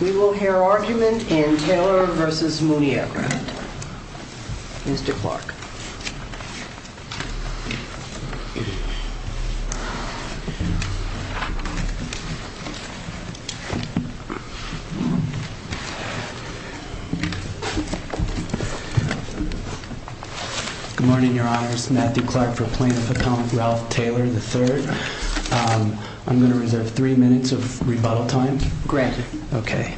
We will hear argument in Taylor v. Mooney Aircraft. Mr. Clark. Good morning, Your Honors. Matthew Clark for Plaintiff Accountant Ralph Taylor III. I'm going to reserve three minutes of rebuttal time. Granted. Okay.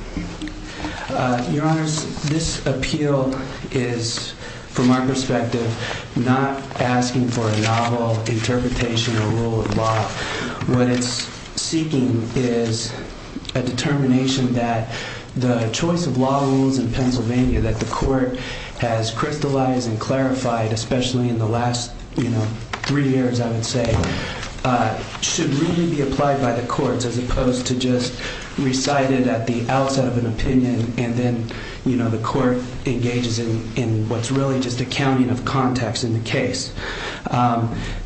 Your Honors, this appeal is, from our perspective, not asking for a novel interpretation or rule of law. What it's seeking is a determination that the choice of law rules in Pennsylvania, that the court has crystallized and clarified, especially in the last, you know, three years, I would say, should really be applied by the courts, as opposed to just recited at the outset of an opinion, and then, you know, the court engages in what's really just a counting of context in the case.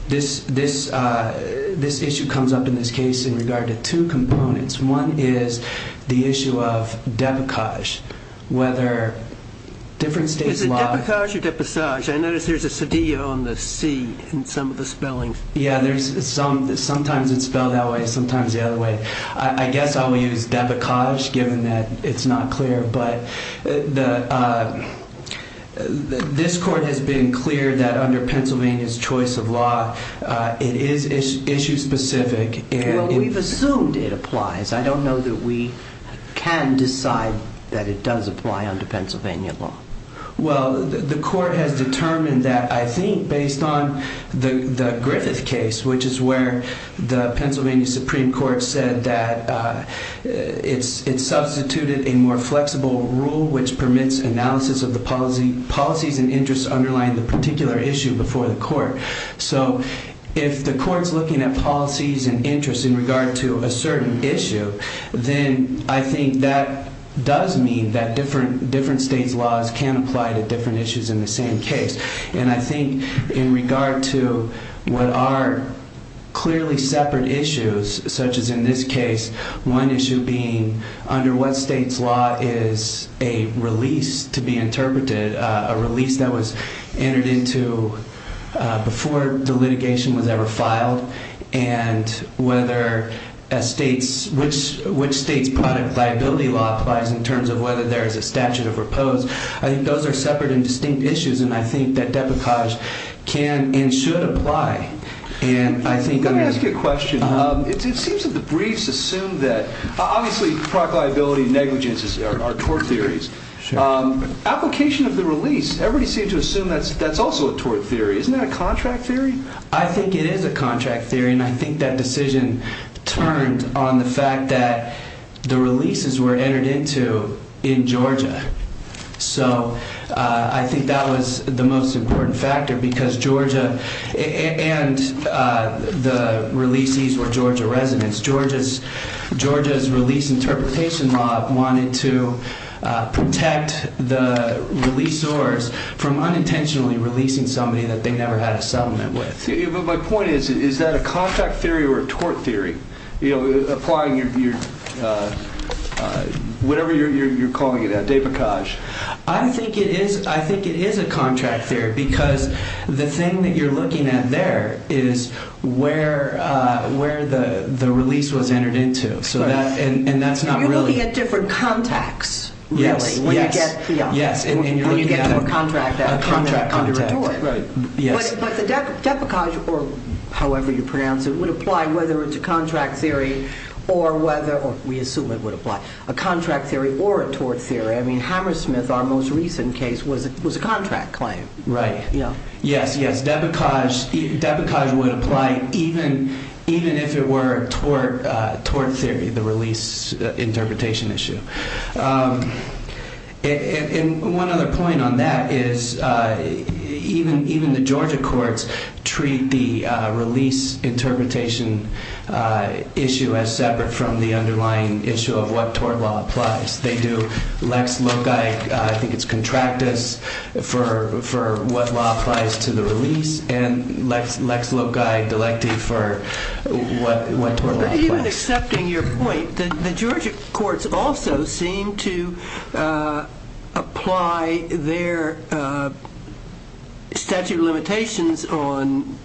This issue comes up in this case in regard to two components. One is the issue of debacage, whether different states' law... Is it debacage or depassage? I notice there's a cedillo on the C in some of the spelling Yeah, sometimes it's spelled that way, sometimes the other way. I guess I'll use debacage given that it's not clear, but this court has been clear that under Pennsylvania's choice of law, it is issue-specific and... Well, we've assumed it applies. I don't know that we can decide that it does apply under Pennsylvania law. Well, the court has determined that, I think, based on the Griffith case, which is where the Pennsylvania Supreme Court said that it's substituted a more flexible rule, which permits analysis of the policies and interests underlying the particular issue before the court. So if the court's looking at policies and interests in regard to a certain issue, then I think that does mean that different states' laws can apply to different issues in the same case. And I think in regard to what are clearly separate issues, such as in this case, one issue being under what state's law is a release to be interpreted, a release that was entered into before the litigation was ever filed, and which state's product liability law applies in terms of whether there is a statute of repose. I think those are separate and distinct issues, and I think that debacage can and should apply. Let me ask you a question. It seems that the briefs assume that... Obviously, product liability negligences are tort theories. Application of the release, everybody seems to assume that's also a tort theory. Isn't that a contract theory? I think it is a contract theory, and I think that decision turned on the fact that the releases were entered into in Georgia. So I think that was the most important factor because Georgia and the releasees were Georgia residents. Georgia's release interpretation law wanted to protect the release source from unintentionally releasing somebody that they never had a settlement with. But my point is, is that a contract theory or a tort theory? You know, applying your... Whatever you're calling it, a debacage. I think it is a contract theory because the thing that you're looking at there is where the release was entered into, and that's not really... You're looking at different contacts, really, when you get to a contract that's under a tort. But the debacage, or however you pronounce it, would apply whether it's a contract theory or whether... We assume it would apply. A contract theory or a tort theory. I mean, Hammersmith, our most recent case, was a contract claim. Right. Yes, yes. Debacage would apply even if it were a tort theory, the release interpretation issue. And one other point on that is even the Georgia courts treat the release interpretation issue as separate from the underlying issue of what tort law applies. They do. Lex Loci, I think it's contractus, for what law applies to the release, and Lex Loci, delecti, for what tort law applies. But even accepting your point, the Georgia courts also seem to apply their statute of limitations on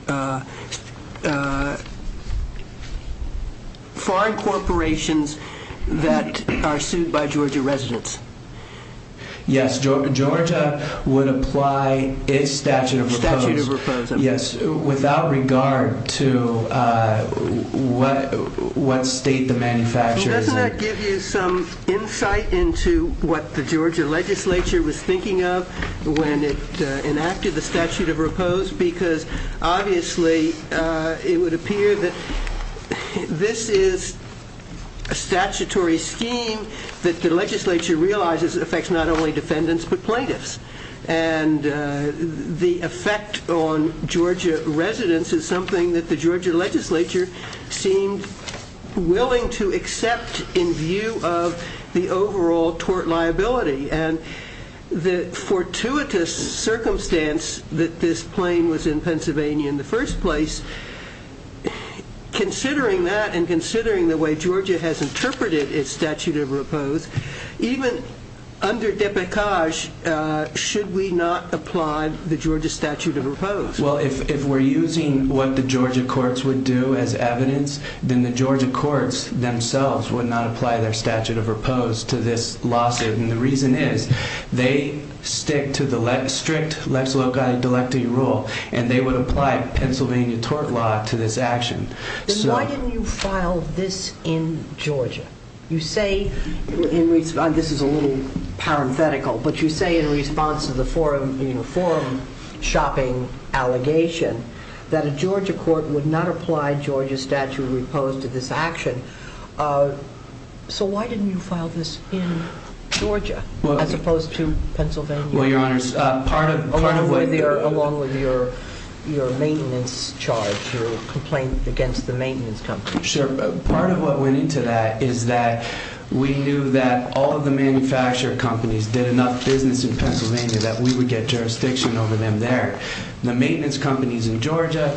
foreign corporations that are sued by Georgia residents. Yes, Georgia would apply its statute of repose- Statute of repose, okay. Yes, without regard to what state the manufacturer is in. Well, doesn't that give you some insight into what the Georgia legislature was thinking of when it enacted the statute of repose? Because obviously, it would appear that this is a statutory scheme that the legislature realizes affects not only defendants, but plaintiffs. And the effect on Georgia residents is something that the Georgia legislature seemed willing to accept in view of the overall tort liability. And the fortuitous circumstance that this plane was in Pennsylvania in the first place, considering that and considering the way Georgia has interpreted its statute of repose, even under Depeche, should we not apply the Georgia statute of repose? Well, if we're using what the Georgia courts would do as evidence, then the Georgia courts themselves would not apply their statute of repose to this lawsuit. And the reason is, they stick to the strict Lex Loci Delecti rule, and they would apply Pennsylvania tort law to this action. Then why didn't you file this in Georgia? You say, this is a little parenthetical, but you say in response to the forum shopping allegation, that a Georgia court would not apply Georgia statute of repose to this action. So why didn't you file this in Georgia, as opposed to Pennsylvania? Well, Your Honors, part of what they're... Along with your maintenance charge, your complaint against the maintenance company. Sure. Part of what went into that is that we knew that all of the manufacturer companies did enough business in Pennsylvania that we would get jurisdiction over them there. The maintenance companies in Georgia,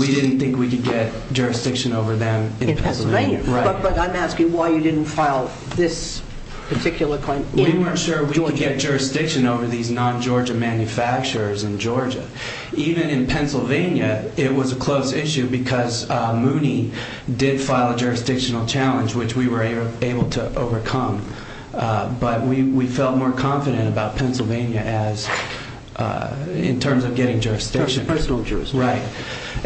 we didn't think we could get jurisdiction over them in Pennsylvania. But I'm asking why you didn't file this particular claim in Georgia. We weren't sure we would get jurisdiction over these non-Georgia manufacturers in Georgia. Even in Pennsylvania, it was a close issue because Mooney did file a jurisdictional challenge, which we were able to overcome. But we felt more confident about Pennsylvania in terms of getting jurisdiction. Personal jurisdiction. Right.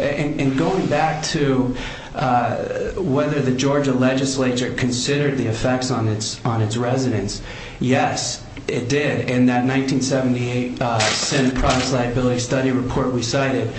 And going back to whether the Georgia legislature considered the effects on its residents, yes, it did. And that 1978 Senate Promise Liability Study report we cited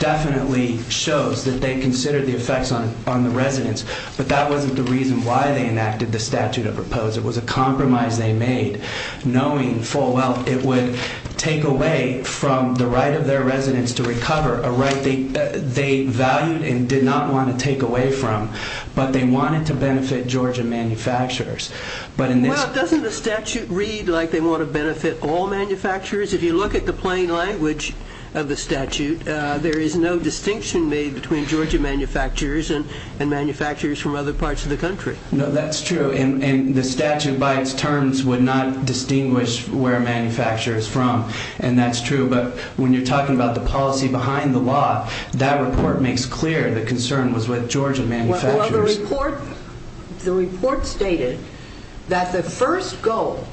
definitely shows that they considered the effects on the residents. But that wasn't the reason why they enacted the statute of propose. It was a compromise they made, knowing full well it would take away from the right of their residents to recover, a right they valued and did not want to take away from. But they wanted to benefit Georgia manufacturers. Well, doesn't the statute read like they want to benefit all manufacturers? If you look at the plain language of the statute, there is no distinction made between Georgia manufacturers and manufacturers from other parts of the country. No, that's true. And the statute, by its terms, would not distinguish where a manufacturer is from. And that's true. But when you're talking about the policy behind the law, that report makes clear the concern was with Georgia manufacturers. Well, the report stated that the first goal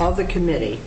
of the committee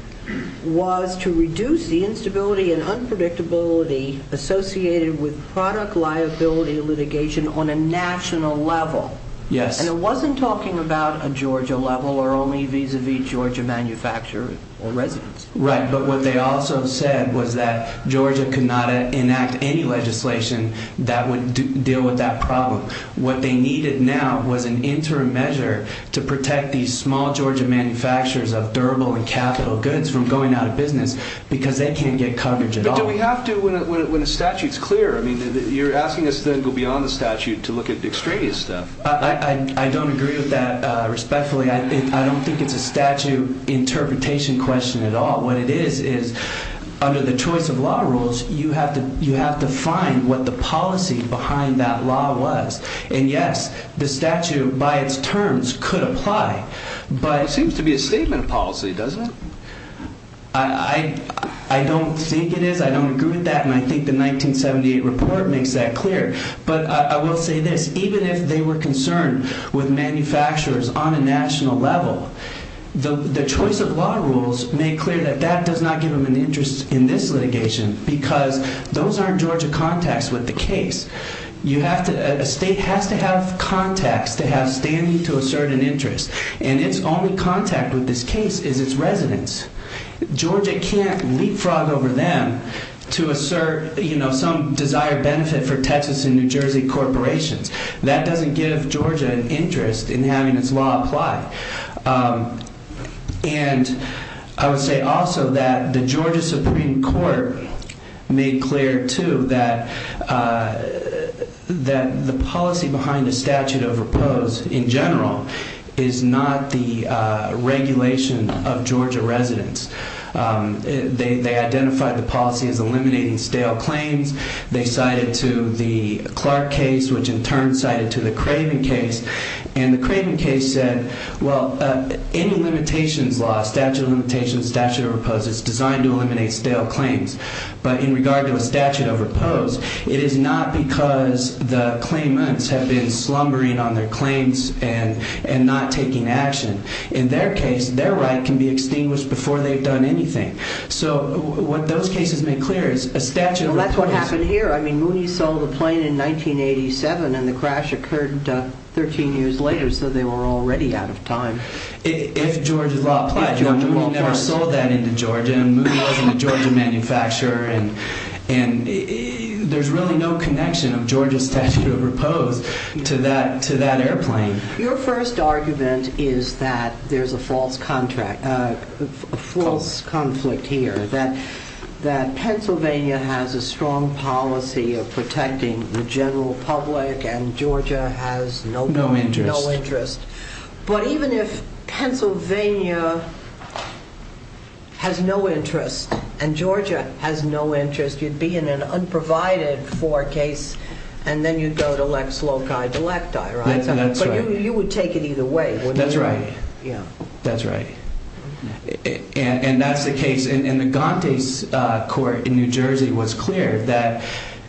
was to reduce the instability and unpredictability associated with product liability litigation on a national level. Yes. And it wasn't talking about a Georgia level or only vis-a-vis Georgia manufacturers or residents. Right. But what they also said was that Georgia could not enact any legislation that would deal with that problem. What they needed now was an interim measure to protect these small Georgia manufacturers of durable and capital goods from going out of business because they can't get coverage at all. But do we have to, when the statute's clear? I mean, you're asking us to then go beyond the statute to look at extraneous stuff. I don't agree with that respectfully. I don't think it's a statute interpretation question at all. What it is, is under the choice of law rules, you have to find what the policy behind that law was. And yes, the statute, by its terms, could apply, but... It seems to be a statement of policy, doesn't it? I don't think it is. I don't agree with that. And I think the 1978 report makes that clear. But I will say this, even if they were concerned with manufacturers on a national level, the choice of law rules made clear that that does not give them an interest in this litigation because those aren't Georgia contacts with the case. A state has to have contacts to have standing to assert an interest. And its only contact with this case is its residents. Georgia can't leapfrog over them to assert some desired benefit for Texas and New Jersey corporations. That doesn't give Georgia an interest in having this law apply. And I would say also that the Georgia Supreme Court made clear, too, that the policy behind a statute of repose, in general, is not the regulation of Georgia residents. They identified the policy as eliminating stale claims. They cited to the Clark case, which in turn cited to the Craven case. And the Craven case said, well, any limitations law, statute of limitations, statute of repose, is designed to eliminate stale claims. But in regard to a statute of repose, it is not because the claimants have been slumbering on their claims and not taking action. In their case, their right can be extinguished before they've done anything. So what those cases make clear is a statute of repose... Well, that's what happened here. I mean, Mooney sold the plane in 1987 and the crash occurred 13 years later. So they were already out of time. If Georgia's law applies, Mooney never sold that into Georgia and Mooney wasn't a Georgia manufacturer. And there's really no connection of Georgia's statute of repose to that airplane. Your first argument is that there's a false conflict here, that Pennsylvania has a strong interest, and Georgia has no interest. You'd be in an unprovided-for case and then you'd go to Lex Loci Delecti, right? But you would take it either way, wouldn't you? That's right. That's right. And that's the case. And the Gante's court in New Jersey was clear that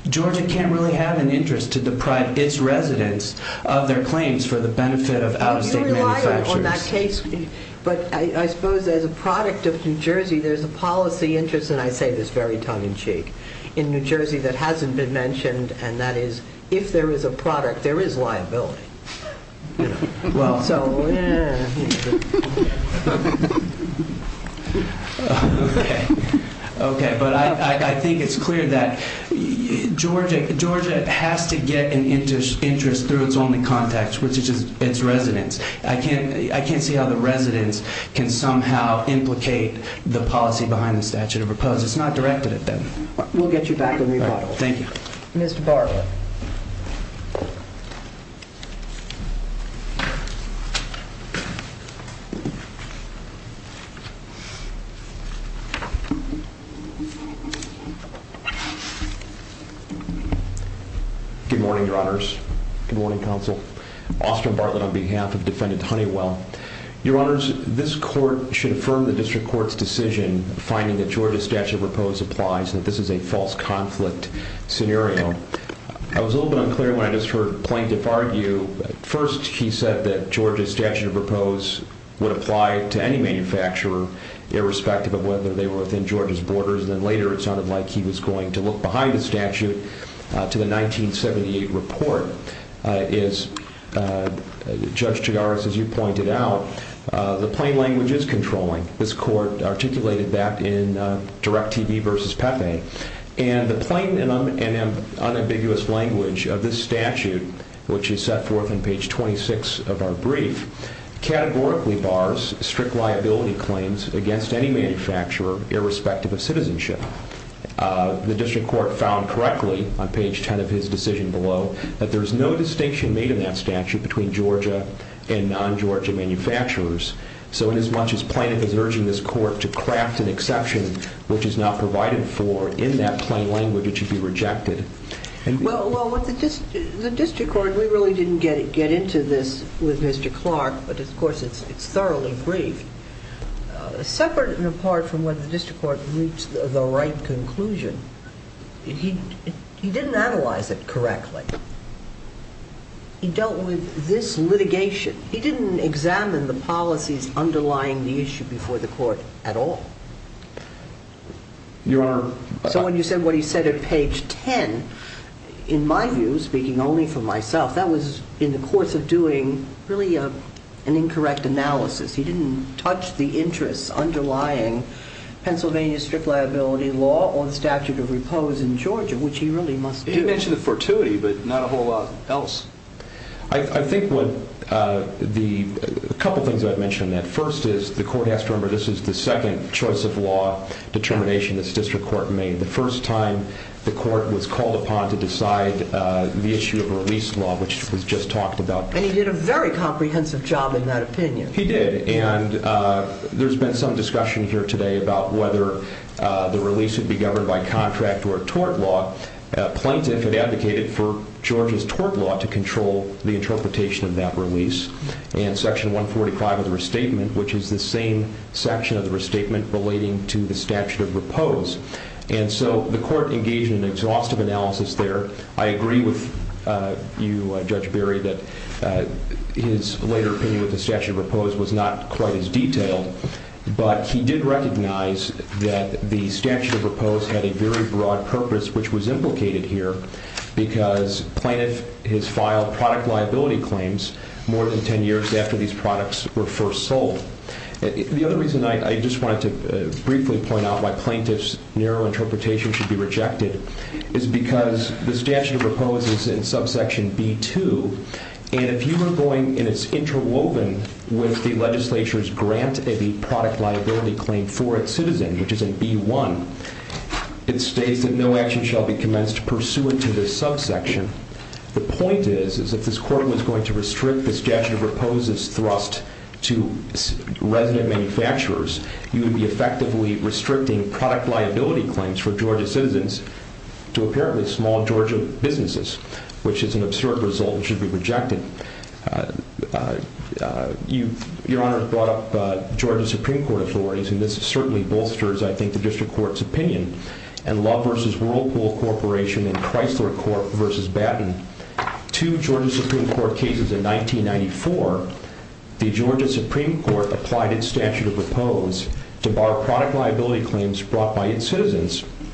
Georgia can't really have an interest to deprive its residents of their claims for the benefit of out-of-state manufacturers. But I suppose as a product of New Jersey, there's a policy interest, and I say this very tongue-in-cheek, in New Jersey that hasn't been mentioned, and that is if there is a product, there is liability. Okay. But I think it's clear that Georgia has to get an interest through its only contacts, its residents. I can't see how the residents can somehow implicate the policy behind the statute of repose. It's not directed at them. We'll get you back in rebuttal. Thank you. Mr. Bartlett. Good morning, your honors. Good morning, counsel. Austan Bartlett on behalf of defendant Honeywell. Your honors, this court should affirm the district court's decision finding that Georgia's statute of repose applies, and that this is a false conflict scenario. I was a little bit unclear when I just heard plaintiff argue. First, he said that Georgia's statute of repose would apply to any manufacturer, irrespective of whether they were within Georgia's borders. And then later, it sounded like he was going to look behind the statute to the 1978 report. As Judge Chigaris, as you pointed out, the plain language is controlling. This court articulated that in Direct TV versus Pepe. And the plain and unambiguous language of this statute, which is set forth on page 26 of our brief, categorically bars strict liability claims against any manufacturer, irrespective of citizenship. The district court found correctly on page 10 of his decision below that there is no distinction made in that statute between Georgia and non-Georgia manufacturers. So inasmuch as plaintiff is urging this court to craft an exception, which is not provided for in that plain language, it should be rejected. Well, with the district court, we really didn't get into this with Mr. Clark, but of course, it's thoroughly brief. Separate and apart from whether the district court reached the right conclusion, he didn't analyze it correctly. He dealt with this litigation. He didn't examine the policies underlying the issue before the court at all. So when you said what he said at page 10, in my view, speaking only for myself, that was in the course of doing really an incorrect analysis. He didn't touch the interests underlying Pennsylvania's strict liability law or the statute of repose in Georgia, which he really must do. He mentioned the fortuity, but not a whole lot else. I think a couple of things I'd mention that first is the court has to remember, this is the second choice of law determination this district court made. The first time the court was called upon to decide the issue of release law, which was just talked about. And he did a very comprehensive job in that opinion. He did. And there's been some discussion here today about whether the release would be governed by contract or tort law. Plaintiff had advocated for Georgia's tort law to control the interpretation of that release. And section 145 of the restatement, which is the same section of the restatement relating to the statute of repose. And so the court engaged in an exhaustive analysis there. I agree with you, Judge Berry, that his later opinion with the statute of repose was not quite as detailed, but he did recognize that the statute of repose had a very broad purpose, which was implicated here because plaintiff has filed product liability claims more than 10 years after these products were first sold. The other reason I just wanted to briefly point out why the statute of repose is in subsection B2. And if you were going, and it's interwoven with the legislature's grant of the product liability claim for its citizen, which is in B1, it states that no action shall be commenced pursuant to this subsection. The point is, is if this court was going to restrict the statute of repose's thrust to resident manufacturers, you would be effectively restricting product liability claims for Georgia citizens to apparently small Georgia businesses, which is an absurd result and should be rejected. Your Honor brought up Georgia Supreme Court authorities, and this certainly bolsters, I think, the district court's opinion, and Love v. Whirlpool Corporation and Chrysler Corp. v. Batten. Two Georgia Supreme Court cases in 1994, the Georgia Supreme Court applied its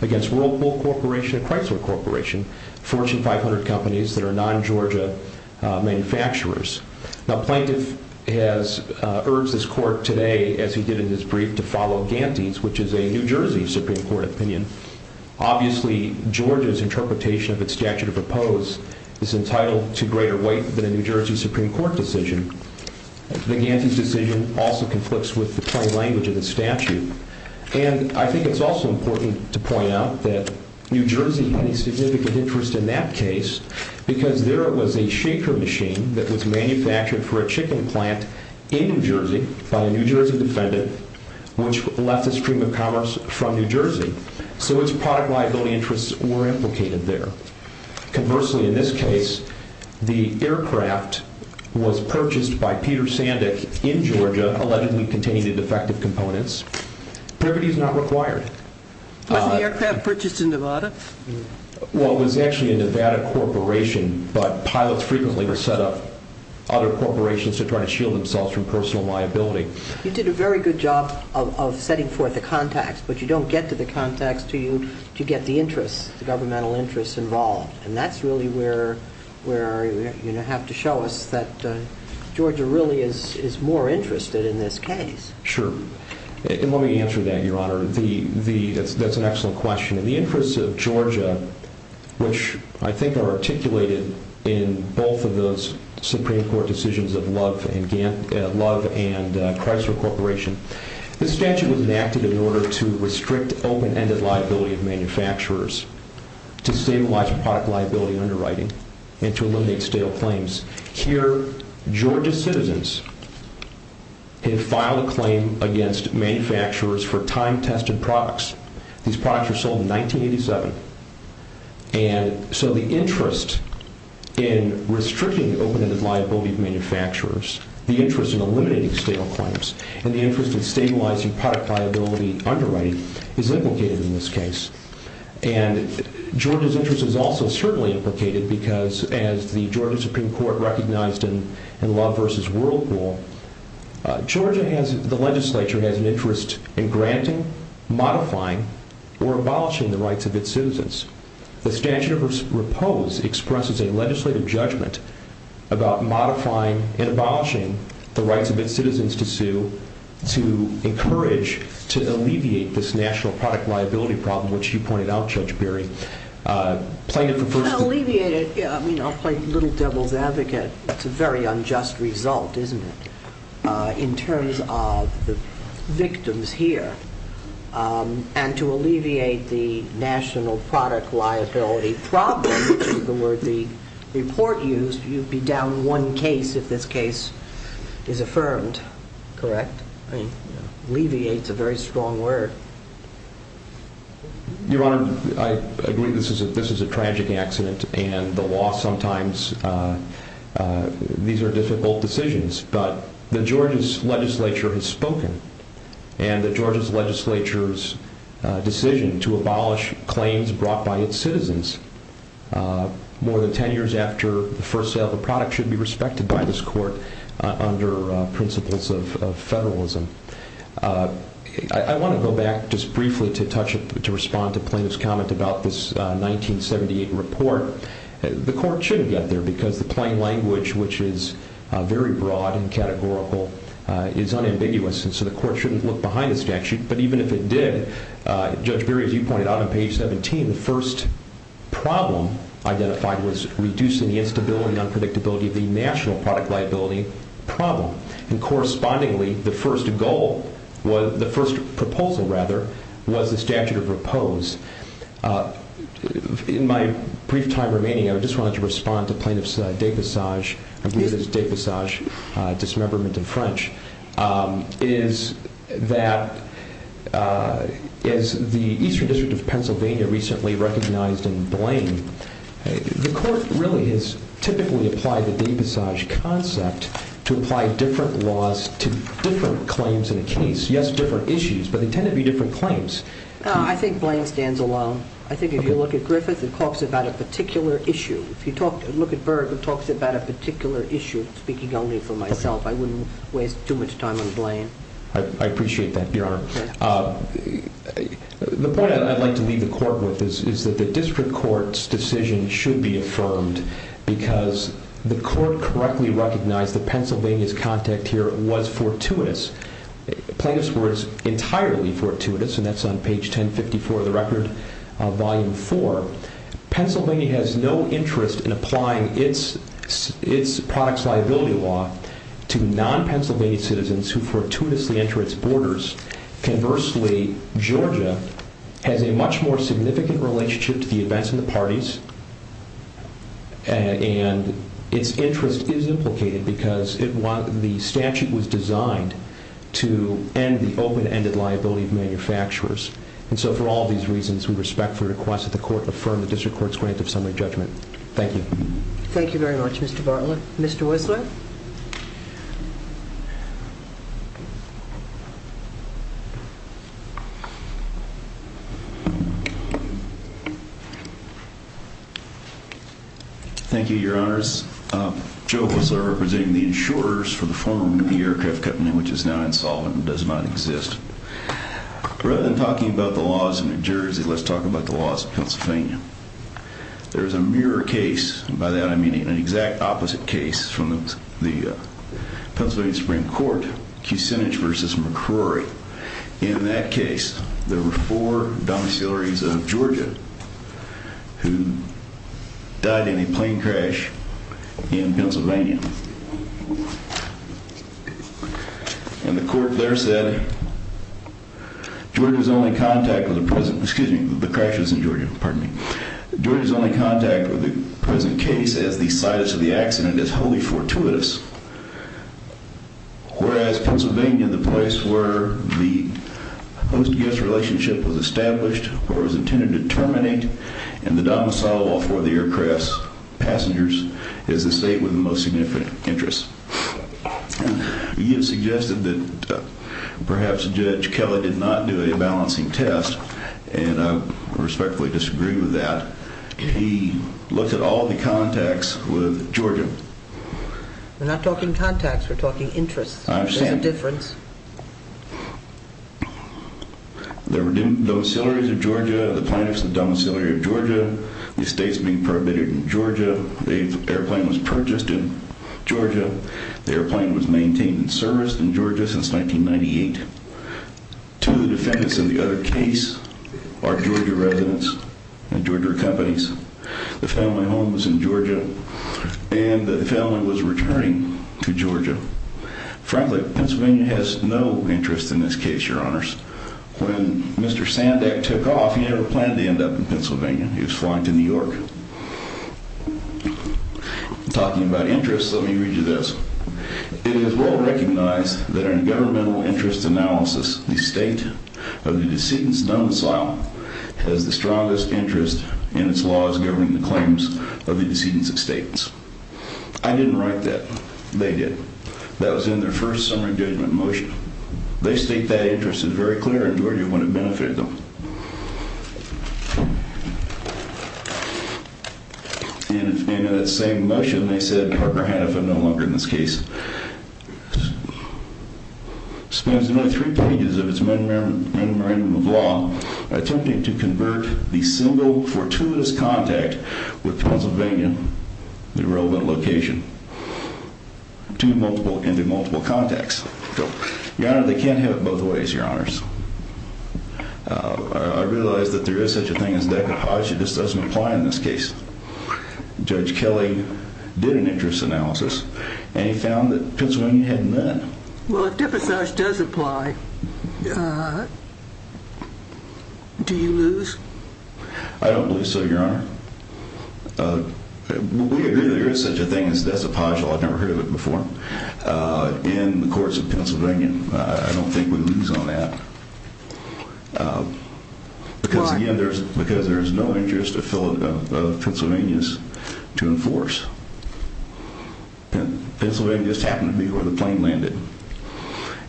against Whirlpool Corporation and Chrysler Corporation, Fortune 500 companies that are non-Georgia manufacturers. Now, plaintiff has urged this court today, as he did in his brief, to follow Ganti's, which is a New Jersey Supreme Court opinion. Obviously, Georgia's interpretation of its statute of repose is entitled to greater weight than a New Jersey Supreme Court decision. The Ganti's decision also conflicts with the plain language of the statute. And I think it's also important to point out that New Jersey had a significant interest in that case because there was a shaker machine that was manufactured for a chicken plant in New Jersey by a New Jersey defendant, which left the stream of commerce from New Jersey. So its product liability interests were implicated there. Conversely, in this case, the aircraft was purchased by Peter Sandek in Was the aircraft purchased in Nevada? Well, it was actually a Nevada corporation, but pilots frequently will set up other corporations to try to shield themselves from personal liability. You did a very good job of setting forth the context, but you don't get to the context, you get the interests, the governmental interests involved. And that's really where you have to show us that Georgia really is more interested in this case. Sure. Let me answer that, Your Honor. That's an excellent question. In the interest of Georgia, which I think are articulated in both of those Supreme Court decisions of Love and Chrysler Corporation, the statute was enacted in order to restrict open ended liability of manufacturers to stabilize product liability underwriting and to eliminate stale claims. Here, Georgia citizens have filed a claim against manufacturers for time tested products. These products were sold in 1987. And so the interest in restricting open ended liability of manufacturers, the interest in eliminating stale claims, and the interest in stabilizing product liability underwriting is implicated in this case. And Georgia's interest is also certainly implicated because as the Georgia Supreme Court recognized in Love versus Whirlpool, the legislature has an interest in granting, modifying, or abolishing the rights of its citizens. The statute of repose expresses a legislative judgment about modifying and abolishing the rights of its citizens to sue to encourage, to alleviate this national product liability problem, which you pointed out, Judge I mean, I'll play little devil's advocate. It's a very unjust result, isn't it, in terms of the victims here. And to alleviate the national product liability problem, the word the report used, you'd be down one case if this case is affirmed, correct? I mean, it's a very strong word. Your Honor, I agree this is a tragic accident and the law sometimes, these are difficult decisions, but the Georgia's legislature has spoken and the Georgia's legislature's decision to abolish claims brought by its citizens more than 10 years after the first sale of the product should be respected by this court under principles of federalism. I want to go back just briefly to touch, to respond to plaintiff's comment about this 1978 report. The court should have got there because the plain language, which is very broad and categorical, is unambiguous. And so the court shouldn't look behind the statute, but even if it did, Judge Berry, as you pointed out on page 17, the first problem identified was reducing the instability and unpredictability of the national product liability problem. And correspondingly, the first goal, the first proposal rather, was the statute of repose. In my brief time remaining, I just wanted to respond to plaintiff's dépassage, I believe it's dépassage, dismemberment in French, is that as the Eastern District of Pennsylvania recently recognized in Blaine, the court really has typically applied the dépassage concept to apply different laws to different claims in a case. Yes, different issues, but they tend to be different claims. I think Blaine stands alone. I think if you look at Griffith, it talks about a particular issue. If you look at Berg, it talks about a particular issue. Speaking only for myself, I wouldn't waste too much time on Blaine. I appreciate that, Your Honor. The point I'd like to leave the court with is that the district court's decision should be affirmed because the court correctly recognized that Pennsylvania's contact here was fortuitous. Plaintiff's word is entirely fortuitous, and that's on page 1054 of the record, volume four. Pennsylvania has no interest in applying its product's liability law to non-Pennsylvania citizens who fortuitously enter its borders. Conversely, Georgia has a much more significant relationship to the events in the parties, and its interest is implicated because the statute was designed to end the open-ended liability of manufacturers. For all these reasons, we respectfully request that the court affirm the district court's grant of summary judgment. Thank you. Thank you very much, Mr. Bartlett. Mr. Wessler? Thank you, Your Honors. Joe Wessler, representing the insurers for the former aircraft company, which is now insolvent and does not exist. Rather than talking about the laws in New Jersey, let's talk about the laws in Pennsylvania. There's a mirror case, and by that I mean an exact opposite case from the Pennsylvania Supreme Court, Kucinich v. McCrory. In that case, there were four domiciliaries of Georgia who died in a plane crash in Pennsylvania, and the court there said Georgia's only contact with the present, excuse me, as the situs of the accident is wholly fortuitous, whereas Pennsylvania, the place where the post-guest relationship was established or was intended to terminate, and the domicile for the aircraft's passengers, is the state with the most significant interest. You suggested that perhaps Judge Kelly did not do a balancing test, and I respectfully disagree with that. He looked at all the contacts with Georgia. We're not talking contacts, we're talking interests. I understand. There's a difference. There were domiciliaries of Georgia, the plaintiffs had a domiciliary of Georgia, the estate's being permitted in Georgia, the airplane was purchased in Georgia, the airplane was maintained in service in Georgia since 1998. Two defendants in the other case are Georgia residents and Georgia companies. The family home was in Georgia and the family was returning to Georgia. Frankly, Pennsylvania has no interest in this case, your honors. When Mr. Sandak took off, he never planned to end up in Pennsylvania. He was flying to New York. Talking about interests, let me read you this. It is well recognized that in governmental interest analysis, the state of the decedent's domicile has the strongest interest in its laws governing the claims of the decedent's estates. I didn't write that, they did. That was in their first summary judgment motion. They state that interest is very clear in Georgia when it benefited them. And in that same motion, they said Parker Hannaford, no longer in this case, spends only three pages of his memorandum of law attempting to convert the single fortuitous contact with Pennsylvania, the relevant location, into multiple contacts. Your honor, they can't have it both ways, your honors. I realize that there is such a thing as decapacity, it just doesn't apply in this case. Judge Kelly did an interest analysis and he found that Pennsylvania had none. Well, if depassage does apply, do you lose? I don't believe so, your honor. We agree there is such a thing as decapacity, I've never heard of it before. In the courts of Pennsylvania, I don't think we lose on that. Why? Because there is no interest of Pennsylvania's to enforce. And Pennsylvania just happened to be where the plane landed.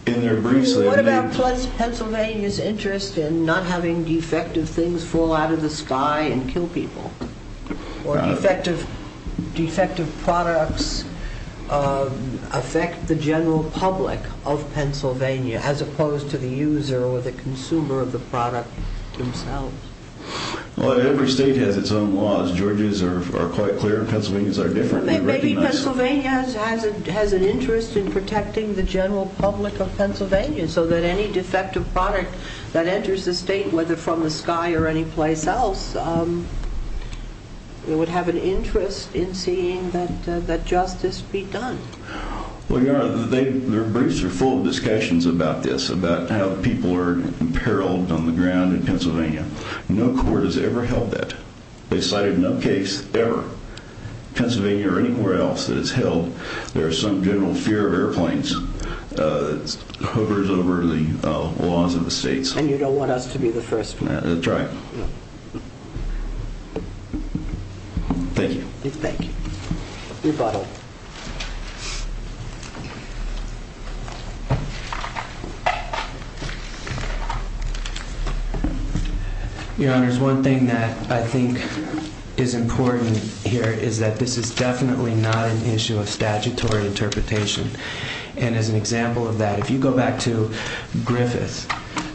What about Pennsylvania's interest in not having defective things fall out of the sky and kill people? Or defective products affect the general public of Pennsylvania as opposed to the user or the consumer of the product themselves? Well, every state has its own laws. Georgia's are different. Maybe Pennsylvania has an interest in protecting the general public of Pennsylvania, so that any defective product that enters the state, whether from the sky or any place else, it would have an interest in seeing that justice be done. Well, your honor, their briefs are full of discussions about this, about how people are imperiled on the ground in Pennsylvania or anywhere else that it's held. There is some general fear of airplanes hovers over the laws of the states. And you don't want us to be the first. That's right. Thank you. Thank you. Rebuttal. Your honor, there's one thing that I think is important here is that this is definitely not an issue of statutory interpretation. And as an example of that, if you go back to Griffith,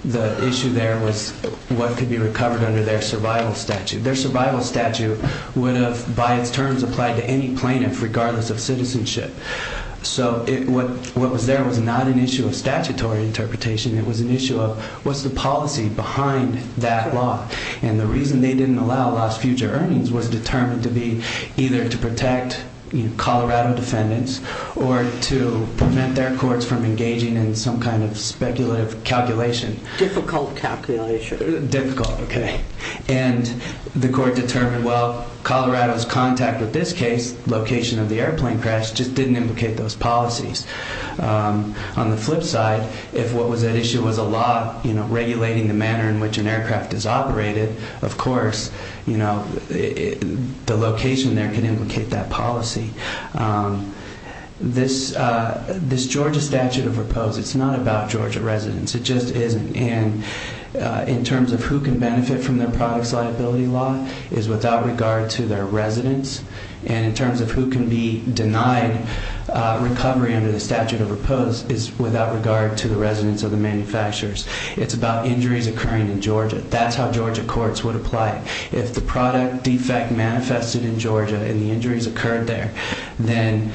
the issue there was what could be recovered under their survival statute, their survival statute would have by its terms applied to any plaintiff, regardless of citizenship. So what was there was not an issue of statutory interpretation. It was an issue of what's the policy behind that law. And the reason they didn't allow lost future earnings was determined to be either to protect Colorado defendants or to prevent their courts from engaging in some kind of speculative calculation, difficult calculation, difficult. Okay. And the court determined, well, the airplane crash just didn't implicate those policies. On the flip side, if what was at issue was a law regulating the manner in which an aircraft is operated, of course, the location there can implicate that policy. This Georgia statute of repose, it's not about Georgia residents. It just isn't. And in terms of who can benefit from their products, liability law is without regard to their residents. And in terms of who can be denied recovery under the statute of repose is without regard to the residents of the manufacturers. It's about injuries occurring in Georgia. That's how Georgia courts would apply. If the product defect manifested in Georgia and the injuries occurred there, then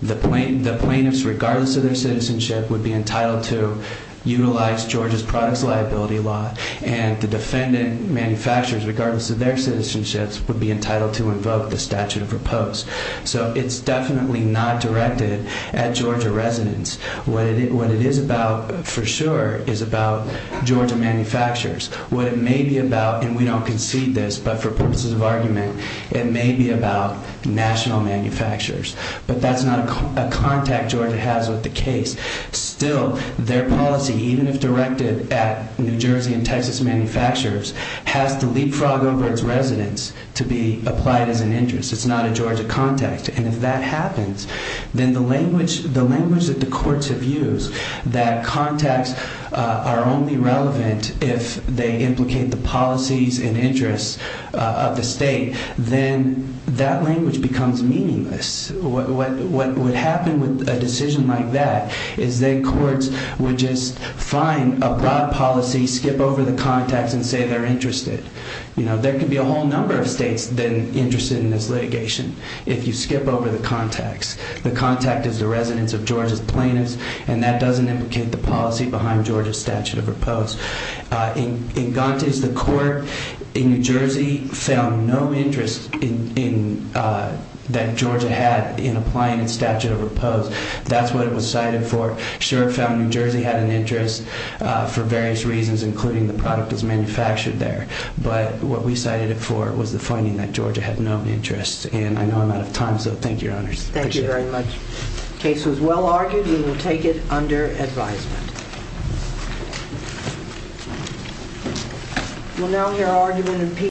the plaintiff, the plaintiffs, regardless of their citizenship would be entitled to utilize Georgia's products, liability law and the defendant manufacturers, regardless of their citizenships, would be entitled to invoke the statute of repose. So it's definitely not directed at Georgia residents. What it is about, for sure, is about Georgia manufacturers. What it may be about, and we don't concede this, but for purposes of argument, it may be about national manufacturers. But that's not a contact Georgia has with the case. Still, their policy, even if directed at New Jersey and Texas manufacturers, has to leapfrog over its residents to be applied as an interest. It's not a Georgia contact. And if that happens, then the language that the courts have used, that contacts are only relevant if they implicate the policies and interests of the state, then that language becomes meaningless. What would happen with a decision like that is then courts would just find a broad policy, skip over the contacts and say they're interested. You know, there could be a whole number of states then interested in this litigation. If you skip over the contacts, the contact is the residents of Georgia's plaintiffs, and that doesn't implicate the policy behind Georgia's statute of repose. In Gontes, the court in New Jersey found no interest in that Georgia had in applying a statute of repose. That's what it was cited for. Sure, it found New Jersey had an interest for various reasons, including the product that's manufactured there. But what we cited it for was the finding that Georgia had no interest. And I know I'm out of time, so thank you, Your Honors. Thank you very much. The case was well argued, and we'll take it under advisement. We'll now hear argument in